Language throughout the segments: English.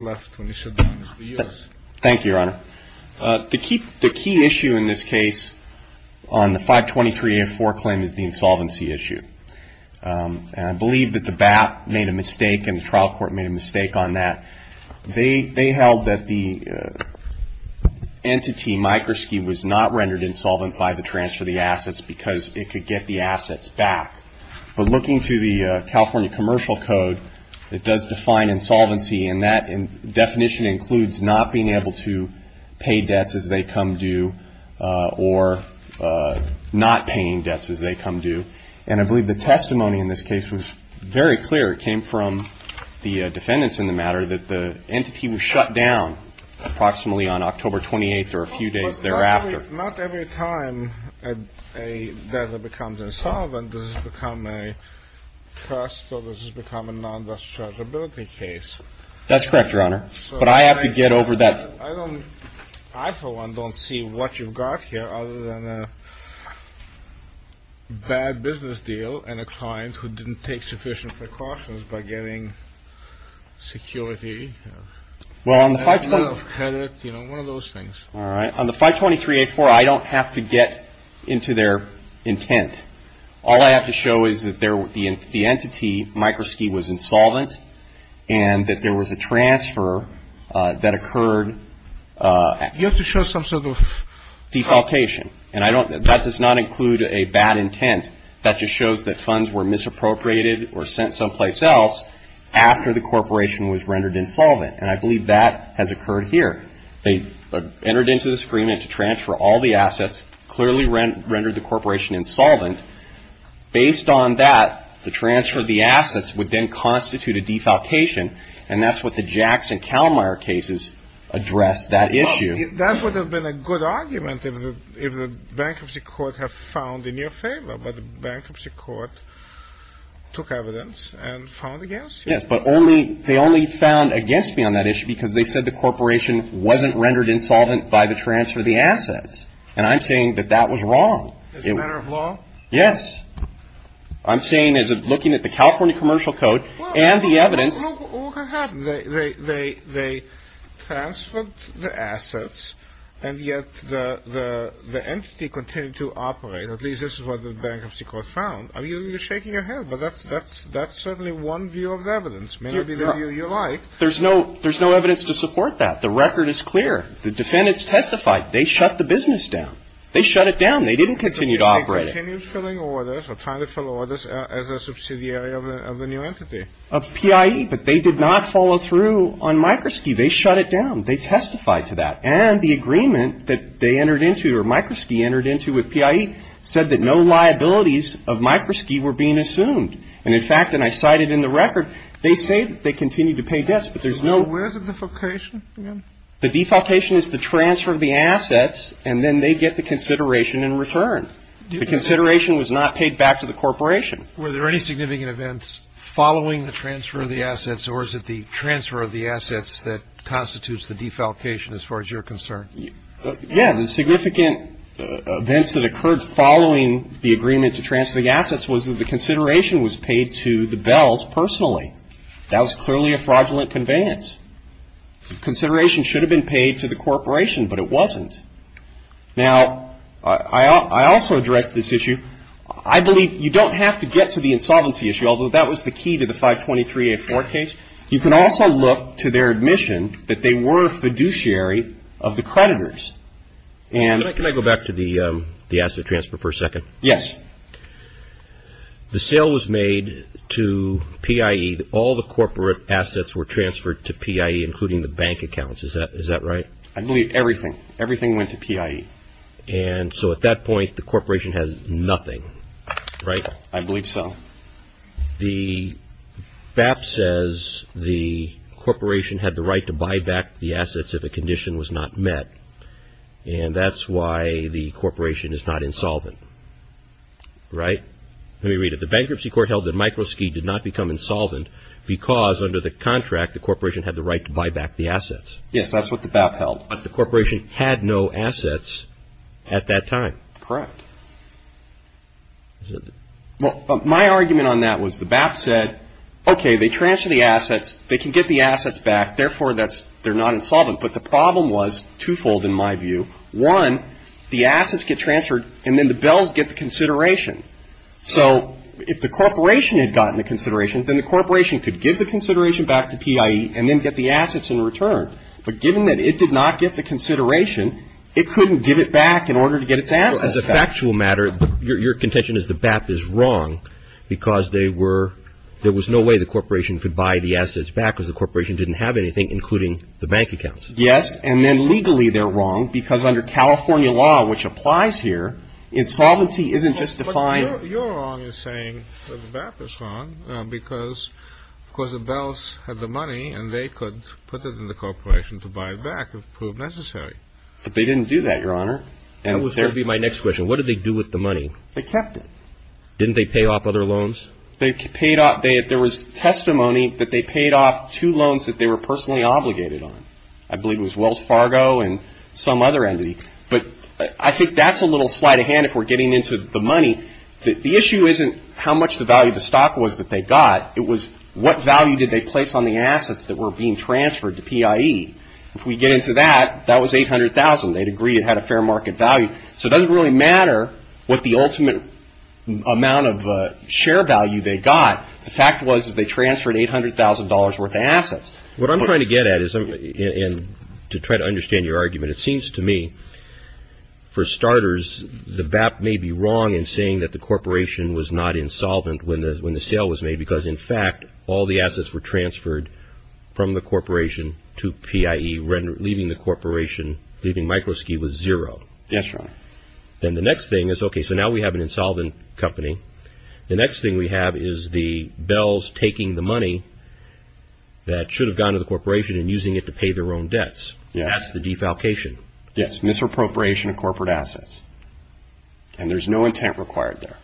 Thank you, Your Honor. The key issue in this case on the 523A4 claim is the insolvency issue. And I believe that the BAP made a mistake and the trial court made a mistake on that. They held that the entity, Microski, was not rendered insolvent by the transfer of the assets because it could get the assets back. But looking through the California Commercial Code, it does define insolvency, and that definition includes not being able to pay debts as they come due or not paying debts as they come due. And I believe the testimony in this case was very clear. It came from the defendants in the matter that the entity was shut down approximately on October 28th or a few days thereafter. Not every time a debtor becomes insolvent, does it become a trust or does it become a non-dischargeability case? That's correct, Your Honor. But I have to get over that. I, for one, don't see what you've got here other than a bad business deal and a client who didn't take sufficient precautions by getting security, credit, you know, one of those things. All right. On the 523-84, I don't have to get into their intent. All I have to show is that the entity, Microski, was insolvent and that there was a transfer that occurred. You have to show some sort of... Defaultation. And that does not include a bad intent. That just shows that funds were misappropriated or sent someplace else after the corporation was rendered insolvent. And I believe that has occurred here. They entered into this agreement to transfer all the assets, clearly rendered the corporation insolvent. Based on that, the transfer of the assets would then constitute a defaultation. And that's what the Jackson-Calamire cases address that issue. That would have been a good argument if the bankruptcy court had found in your favor. But the bankruptcy court took evidence and found against you. Yes, but they only found against me on that issue because they said the corporation wasn't rendered insolvent by the transfer of the assets. And I'm saying that that was wrong. As a matter of law? Yes. I'm saying as looking at the California Commercial Code and the evidence... Well, look what happened. They transferred the assets and yet the entity continued to operate. At least this is what the bankruptcy court found. I mean, you're shaking your head, but that's certainly one view of the evidence. Maybe the view you like. There's no evidence to support that. The record is clear. The defendants testified. They shut the business down. They shut it down. They didn't continue to operate. They continued filling orders or trying to fill orders as a subsidiary of the new entity. Of PIE, but they did not follow through on Microski. They shut it down. They testified to that. And the agreement that they entered into or Microski entered into with PIE said that no liabilities of Microski were being assumed. And in fact, and I cited in the record, they say that they continue to pay debts, but there's no... So where's the defalcation? The defalcation is the transfer of the assets, and then they get the consideration in return. The consideration was not paid back to the corporation. So is it the transfer of the assets that constitutes the defalcation as far as you're concerned? Yeah. The significant events that occurred following the agreement to transfer the assets was that the consideration was paid to the Bells personally. That was clearly a fraudulent conveyance. The consideration should have been paid to the corporation, but it wasn't. Now, I also addressed this issue. I believe you don't have to get to the insolvency issue, although that was the key to the 523A4 case. You can also look to their admission that they were a fiduciary of the creditors. Can I go back to the asset transfer for a second? Yes. The sale was made to PIE. All the corporate assets were transferred to PIE, including the bank accounts. Is that right? I believe everything. Everything went to PIE. And so at that point, the corporation has nothing, right? I believe so. The BAP says the corporation had the right to buy back the assets if a condition was not met, and that's why the corporation is not insolvent, right? Let me read it. The bankruptcy court held that Microski did not become insolvent because under the contract, the corporation had the right to buy back the assets. Yes, that's what the BAP held. But the corporation had no assets at that time. Correct. My argument on that was the BAP said, okay, they transferred the assets. They can get the assets back. Therefore, they're not insolvent. But the problem was twofold in my view. One, the assets get transferred, and then the Bells get the consideration. So if the corporation had gotten the consideration, then the corporation could give the consideration back to PIE and then get the assets in return. But given that it did not get the consideration, it couldn't give it back in order to get its assets back. As a factual matter, your contention is the BAP is wrong because there was no way the corporation could buy the assets back because the corporation didn't have anything, including the bank accounts. Yes. And then legally they're wrong because under California law, which applies here, insolvency isn't just defined. Your wrong is saying that the BAP is wrong because, of course, the Bells had the money, and they could put it in the corporation to buy it back if proved necessary. But they didn't do that, Your Honor. That would be my next question. What did they do with the money? They kept it. Didn't they pay off other loans? They paid off. There was testimony that they paid off two loans that they were personally obligated on. I believe it was Wells Fargo and some other entity. But I think that's a little slight of hand if we're getting into the money. The issue isn't how much the value of the stock was that they got. It was what value did they place on the assets that were being transferred to PIE. If we get into that, that was $800,000. They'd agree it had a fair market value. So it doesn't really matter what the ultimate amount of share value they got. What I'm trying to get at is, to try to understand your argument, it seems to me, for starters, the BAP may be wrong in saying that the corporation was not insolvent when the sale was made because, in fact, all the assets were transferred from the corporation to PIE, leaving the corporation, leaving Microski was zero. That's right. Then the next thing is, okay, so now we have an insolvent company. The next thing we have is the Bells taking the money that should have gone to the corporation and using it to pay their own debts. That's the defalcation. Yes, misappropriation of corporate assets. And there's no intent required there.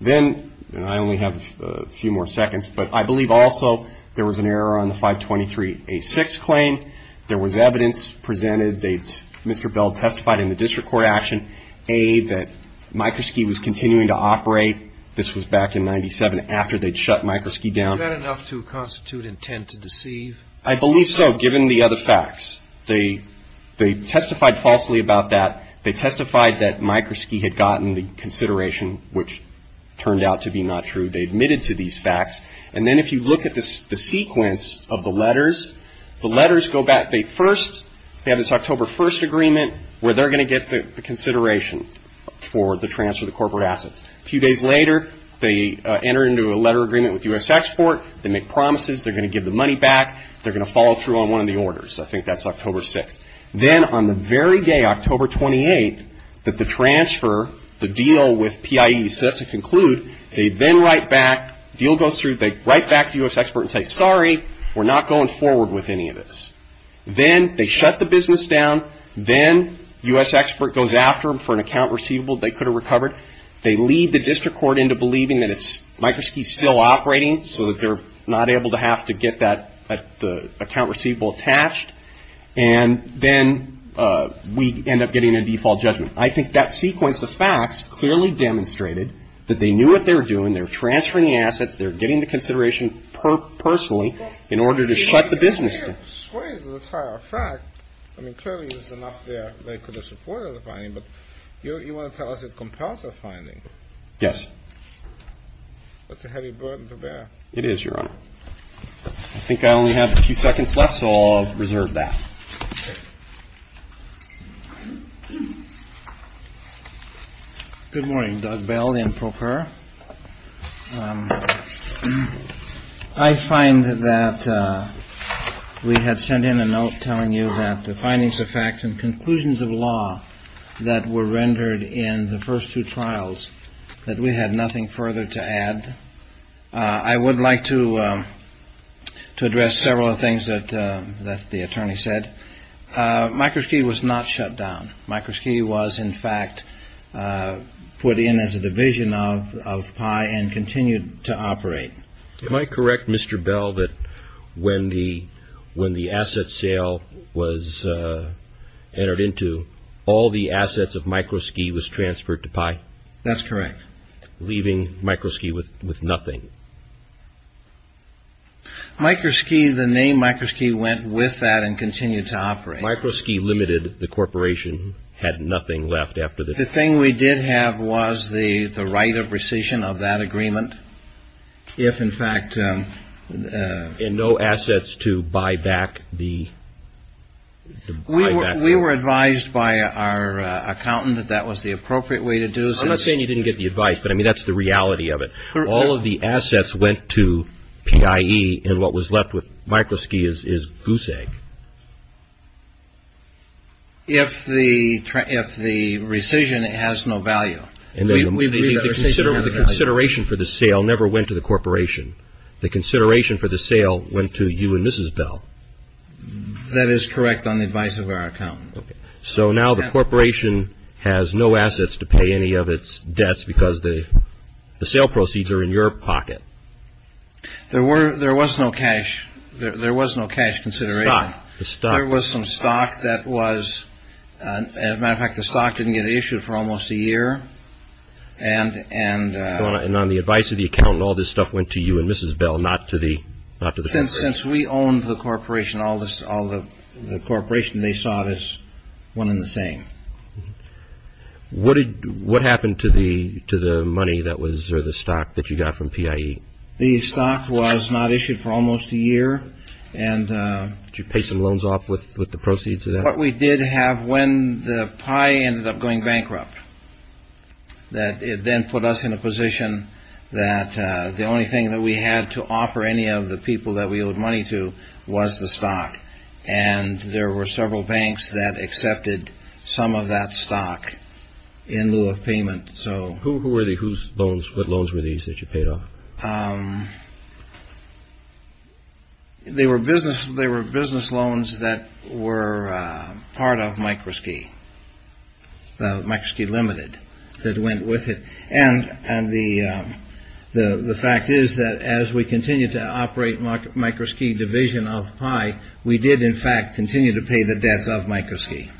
Then, and I only have a few more seconds, but I believe also there was an error on the 523A6 claim. There was evidence presented that Mr. Bell testified in the district court action, A, that Microski was continuing to operate. This was back in 97 after they'd shut Microski down. Is that enough to constitute intent to deceive? I believe so, given the other facts. They testified falsely about that. They testified that Microski had gotten the consideration, which turned out to be not true. They admitted to these facts. And then if you look at the sequence of the letters, the letters go back. They have this October 1st agreement where they're going to get the consideration for the transfer of the corporate assets. A few days later, they enter into a letter agreement with U.S. Export. They make promises. They're going to give the money back. They're going to follow through on one of the orders. I think that's October 6th. Then on the very day, October 28th, that the transfer, the deal with PIE is set to conclude, they then write back, deal goes through, they write back to U.S. Export and say, we're sorry, we're not going forward with any of this. Then they shut the business down. Then U.S. Export goes after them for an account receivable they could have recovered. They lead the district court into believing that Microski is still operating, so that they're not able to have to get that account receivable attached. And then we end up getting a default judgment. I think that sequence of facts clearly demonstrated that they knew what they were doing. They were transferring the assets. They're getting the consideration personally in order to shut the business down. I mean, clearly there's enough there they could have supported the finding, but you want to tell us it's a compulsive finding. Yes. That's a heavy burden to bear. It is, Your Honor. I think I only have a few seconds left, so I'll reserve that. Good morning, Doug Bell and Procur. I find that we had sent in a note telling you that the findings of facts and conclusions of law that were rendered in the first two trials, that we had nothing further to add. I would like to address several of the things that the attorney said. Microski was not shut down. Microski was, in fact, put in as a division of PI and continued to operate. Am I correct, Mr. Bell, that when the asset sale was entered into, all the assets of Microski was transferred to PI? That's correct. Leaving Microski with nothing. Microski, the name Microski, went with that and continued to operate. Microski Limited, the corporation, had nothing left after that. The thing we did have was the right of rescission of that agreement if, in fact… And no assets to buy back the… We were advised by our accountant that that was the appropriate way to do it. I'm not saying you didn't get the advice, but, I mean, that's the reality of it. All of the assets went to PIE, and what was left with Microski is goose egg. If the rescission has no value. The consideration for the sale never went to the corporation. The consideration for the sale went to you and Mrs. Bell. That is correct on the advice of our accountant. So now the corporation has no assets to pay any of its debts because the sale proceeds are in your pocket. There was no cash. There was no cash consideration. There was some stock that was… As a matter of fact, the stock didn't get issued for almost a year. And on the advice of the accountant, all this stuff went to you and Mrs. Bell, not to the corporation. All the corporation they sought is one and the same. What happened to the money that was, or the stock that you got from PIE? The stock was not issued for almost a year, and… Did you pay some loans off with the proceeds of that? What we did have when the pie ended up going bankrupt, that it then put us in a position that the only thing that we had to offer any of the people that we owed money to was the stock. And there were several banks that accepted some of that stock in lieu of payment. So… Who were they? Whose loans? What loans were these that you paid off? They were business loans that were part of Microski, Microski Limited, that went with it. And the fact is that as we continued to operate Microski Division of PIE, we did, in fact, continue to pay the debts of Microski.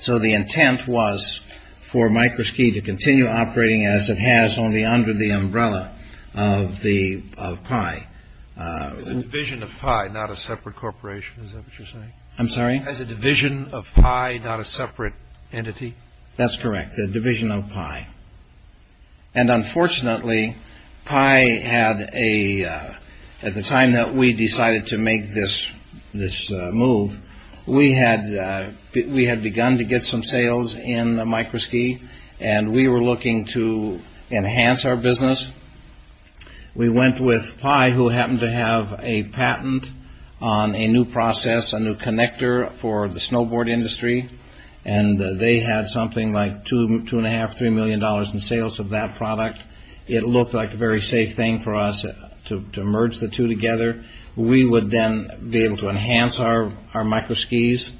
So the intent was for Microski to continue operating as it has only under the umbrella of PIE. As a division of PIE, not a separate corporation, is that what you're saying? I'm sorry? As a division of PIE, not a separate entity? That's correct, a division of PIE. And unfortunately, PIE had a, at the time that we decided to make this move, we had begun to get some sales in Microski, and we were looking to enhance our business. We went with PIE, who happened to have a patent on a new process, a new connector for the snowboard industry. And they had something like two and a half, three million dollars in sales of that product. It looked like a very safe thing for us to merge the two together. We would then be able to enhance our Microskis.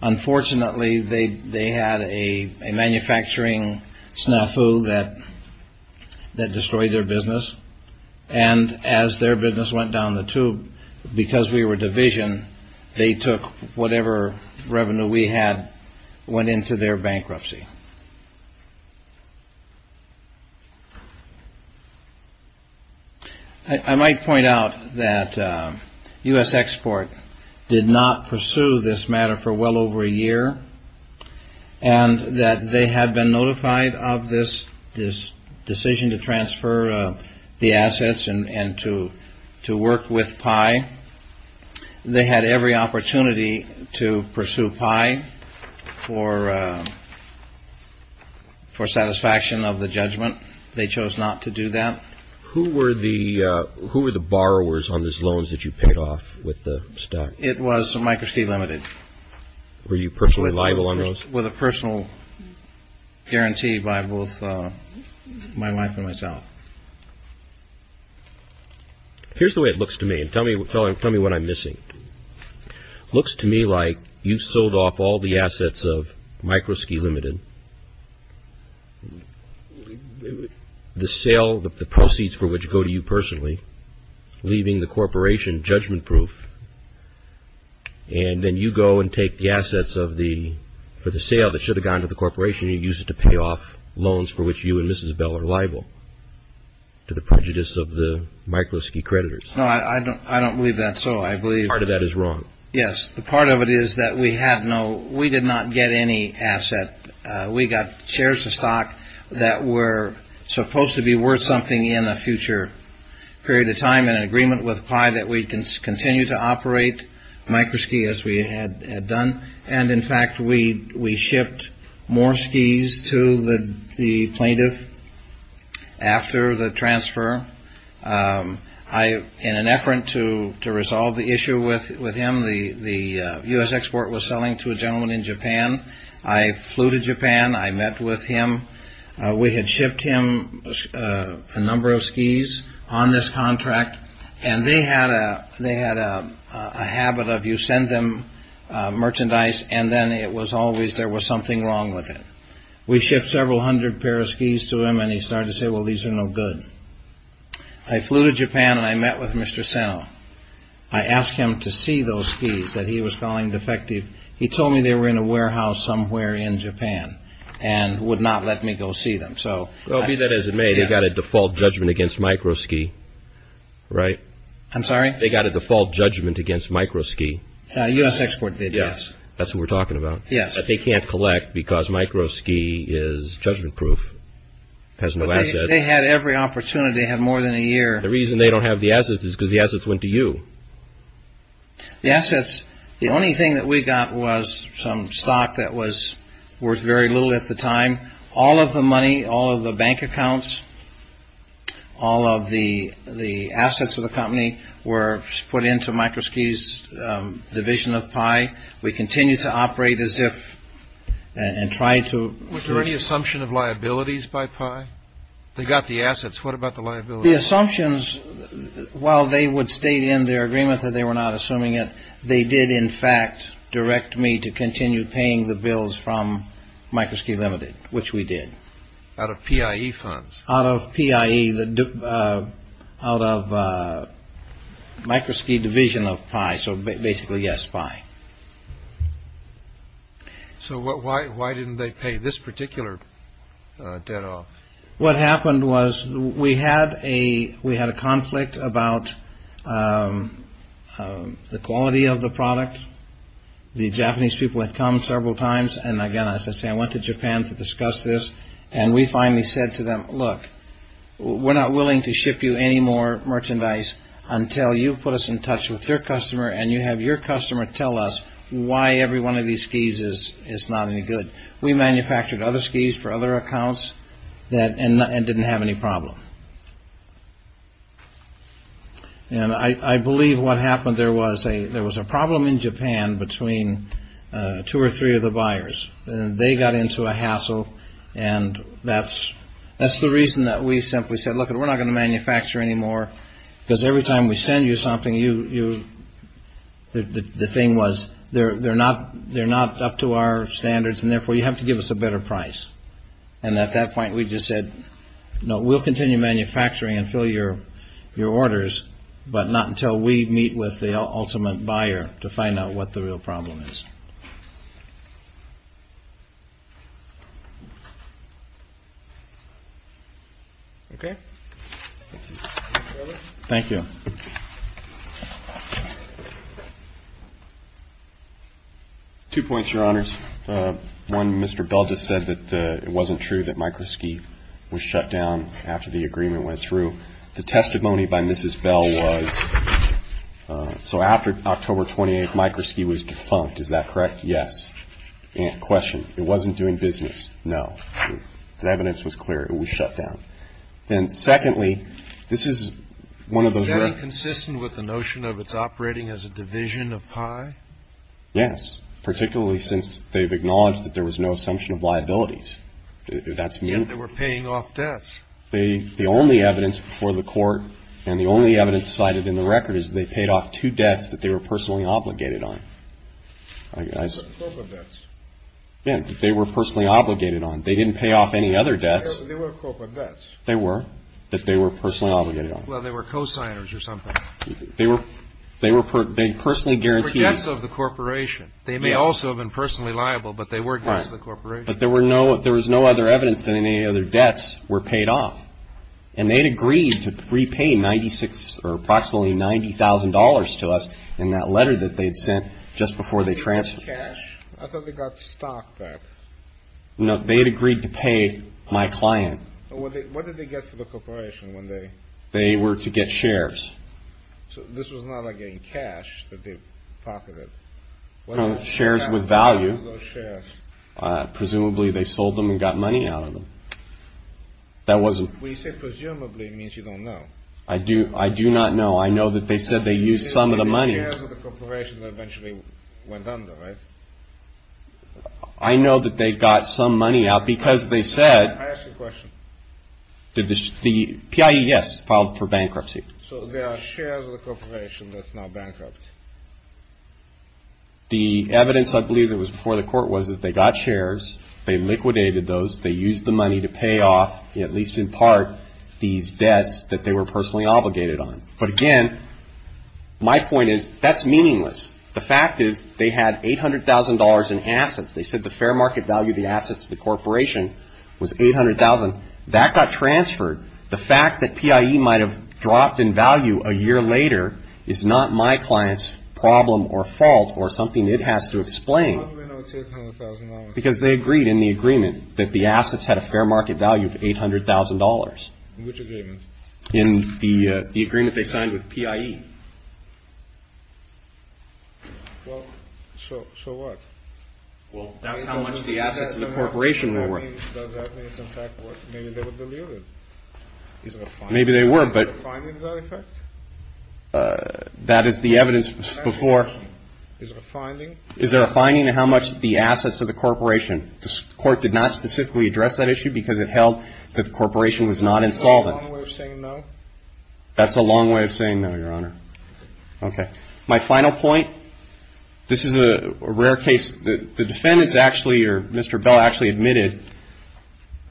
Unfortunately, they had a manufacturing snafu that destroyed their business. And as their business went down the tube, because we were division, they took whatever revenue we had, went into their bankruptcy. I might point out that U.S. Export did not pursue this matter for well over a year, and that they had been notified of this decision to transfer the assets and to work with PIE. They had every opportunity to pursue PIE for satisfaction of the judgment. They chose not to do that. Who were the borrowers on those loans that you paid off with the stock? It was Microski Limited. Were you personally liable on those? With a personal guarantee by both my wife and myself. Here's the way it looks to me. Tell me what I'm missing. Looks to me like you've sold off all the assets of Microski Limited. The sale, the proceeds for which go to you personally, leaving the corporation judgment-proof. And then you go and take the assets for the sale that should have gone to the corporation and use it to pay off loans for which you and Mrs. Bell are liable to the prejudice of the Microski creditors. No, I don't believe that's so. Part of that is wrong. Yes. The part of it is that we did not get any asset. We got shares of stock that were supposed to be worth something in a future period of time in agreement with PIE that we continue to operate Microski as we had done. And, in fact, we shipped more skis to the plaintiff after the transfer. In an effort to resolve the issue with him, the U.S. export was selling to a gentleman in Japan. I flew to Japan. I met with him. We had shipped him a number of skis on this contract, and they had a habit of you send them merchandise, and then it was always there was something wrong with it. We shipped several hundred pairs of skis to him, and he started to say, well, these are no good. I flew to Japan, and I met with Mr. Seno. I asked him to see those skis that he was calling defective. He told me they were in a warehouse somewhere in Japan and would not let me go see them. Well, be that as it may, they got a default judgment against Microski, right? I'm sorry? They got a default judgment against Microski. U.S. export did, yes. That's what we're talking about. Yes. But they can't collect because Microski is judgment-proof, has no assets. They had every opportunity. They had more than a year. The reason they don't have the assets is because the assets went to you. The assets. The only thing that we got was some stock that was worth very little at the time. All of the money, all of the bank accounts, all of the assets of the company were put into Microski's division of Pi. We continue to operate as if and try to. Was there any assumption of liabilities by Pi? They got the assets. What about the liability? The assumptions, while they would state in their agreement that they were not assuming it, they did, in fact, direct me to continue paying the bills from Microski Limited, which we did. Out of PIE funds? Out of PIE, out of Microski division of Pi. So basically, yes, Pi. So why didn't they pay this particular debt off? What happened was we had a conflict about the quality of the product. The Japanese people had come several times. And, again, as I say, I went to Japan to discuss this. And we finally said to them, look, we're not willing to ship you any more merchandise until you put us in touch with your customer and you have your customer tell us why every one of these skis is not any good. We manufactured other skis for other accounts and didn't have any problem. And I believe what happened, there was a problem in Japan between two or three of the buyers. They got into a hassle. And that's the reason that we simply said, look, we're not going to manufacture any more, because every time we send you something, the thing was, they're not up to our standards. And therefore, you have to give us a better price. And at that point, we just said, no, we'll continue manufacturing and fill your orders, but not until we meet with the ultimate buyer to find out what the real problem is. Okay. Thank you. Two points, Your Honors. One, Mr. Bell just said that it wasn't true that Microski was shut down after the agreement went through. The testimony by Mrs. Bell was, so after October 28th, Microski was defunct. Is that correct? Yes. And question, it wasn't doing business? No. The evidence was clear. It was shut down. And secondly, this is one of those records. Is that inconsistent with the notion of it's operating as a division of pie? Yes, particularly since they've acknowledged that there was no assumption of liabilities. Yet they were paying off debts. The only evidence before the court, and the only evidence cited in the record, is they paid off two debts that they were personally obligated on. Corporate debts. Yeah, that they were personally obligated on. They didn't pay off any other debts. They were corporate debts. They were, that they were personally obligated on. Well, they were cosigners or something. They were personally guaranteed. They were debts of the corporation. They may also have been personally liable, but they were debts of the corporation. But there was no other evidence that any other debts were paid off. And they'd agreed to repay approximately $90,000 to us in that letter that they'd sent just before they transferred. Cash? I thought they got stock back. No, they had agreed to pay my client. What did they get for the corporation when they? They were to get shares. So this was not, again, cash that they pocketed? No, shares with value. Presumably they sold them and got money out of them. That wasn't. When you say presumably, it means you don't know. I do not know. I know that they said they used some of the money. You said that the shares of the corporation eventually went under, right? I know that they got some money out because they said. I asked you a question. The PIE, yes, filed for bankruptcy. So there are shares of the corporation that's now bankrupt? The evidence I believe that was before the court was that they got shares. They liquidated those. They used the money to pay off, at least in part, these debts that they were personally obligated on. But, again, my point is that's meaningless. The fact is they had $800,000 in assets. They said the fair market value of the assets of the corporation was $800,000. That got transferred. The fact that PIE might have dropped in value a year later is not my client's problem or fault or something it has to explain. How do we know it's $800,000? Because they agreed in the agreement that the assets had a fair market value of $800,000. Which agreement? In the agreement they signed with PIE. Well, so what? Well, that's how much the assets of the corporation were worth. Maybe they were, but that is the evidence before. Is there a finding? Is there a finding in how much the assets of the corporation? The court did not specifically address that issue because it held that the corporation was not insolvent. That's a long way of saying no, Your Honor. Okay. My final point, this is a rare case. The defendants actually or Mr. Bell actually admitted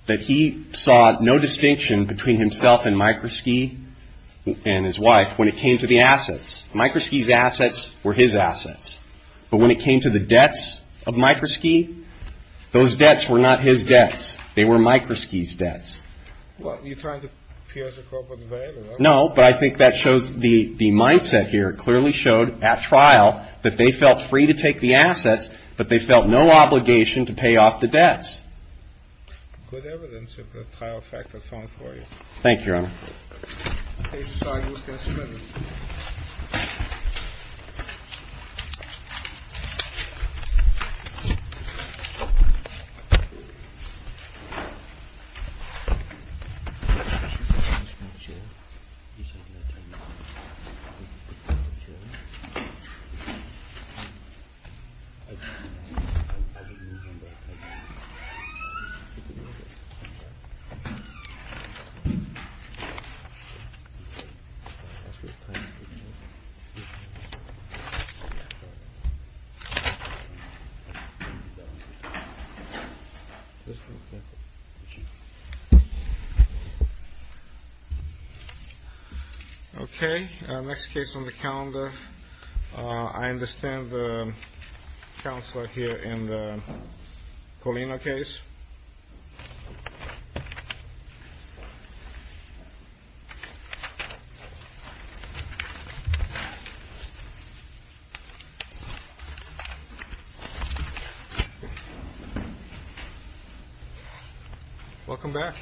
that he saw no distinction between himself and Microski and his wife when it came to the assets. Microski's assets were his assets. But when it came to the debts of Microski, those debts were not his debts. They were Microski's debts. Well, you're trying to pierce a corporate veil, are you? No, but I think that shows the mindset here. Clearly showed at trial that they felt free to take the assets, but they felt no obligation to pay off the debts. Good evidence of the trial factor found for you. Case is filed. Okay. Next case on the calendar. I understand the counselor here in the Colina case. Welcome back.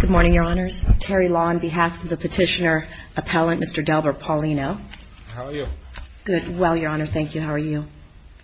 Good morning, Your Honors. Terry Law on behalf of the petitioner appellant, Mr. Delbert Paulino. How are you? Good. Well, Your Honor, thank you. How are you?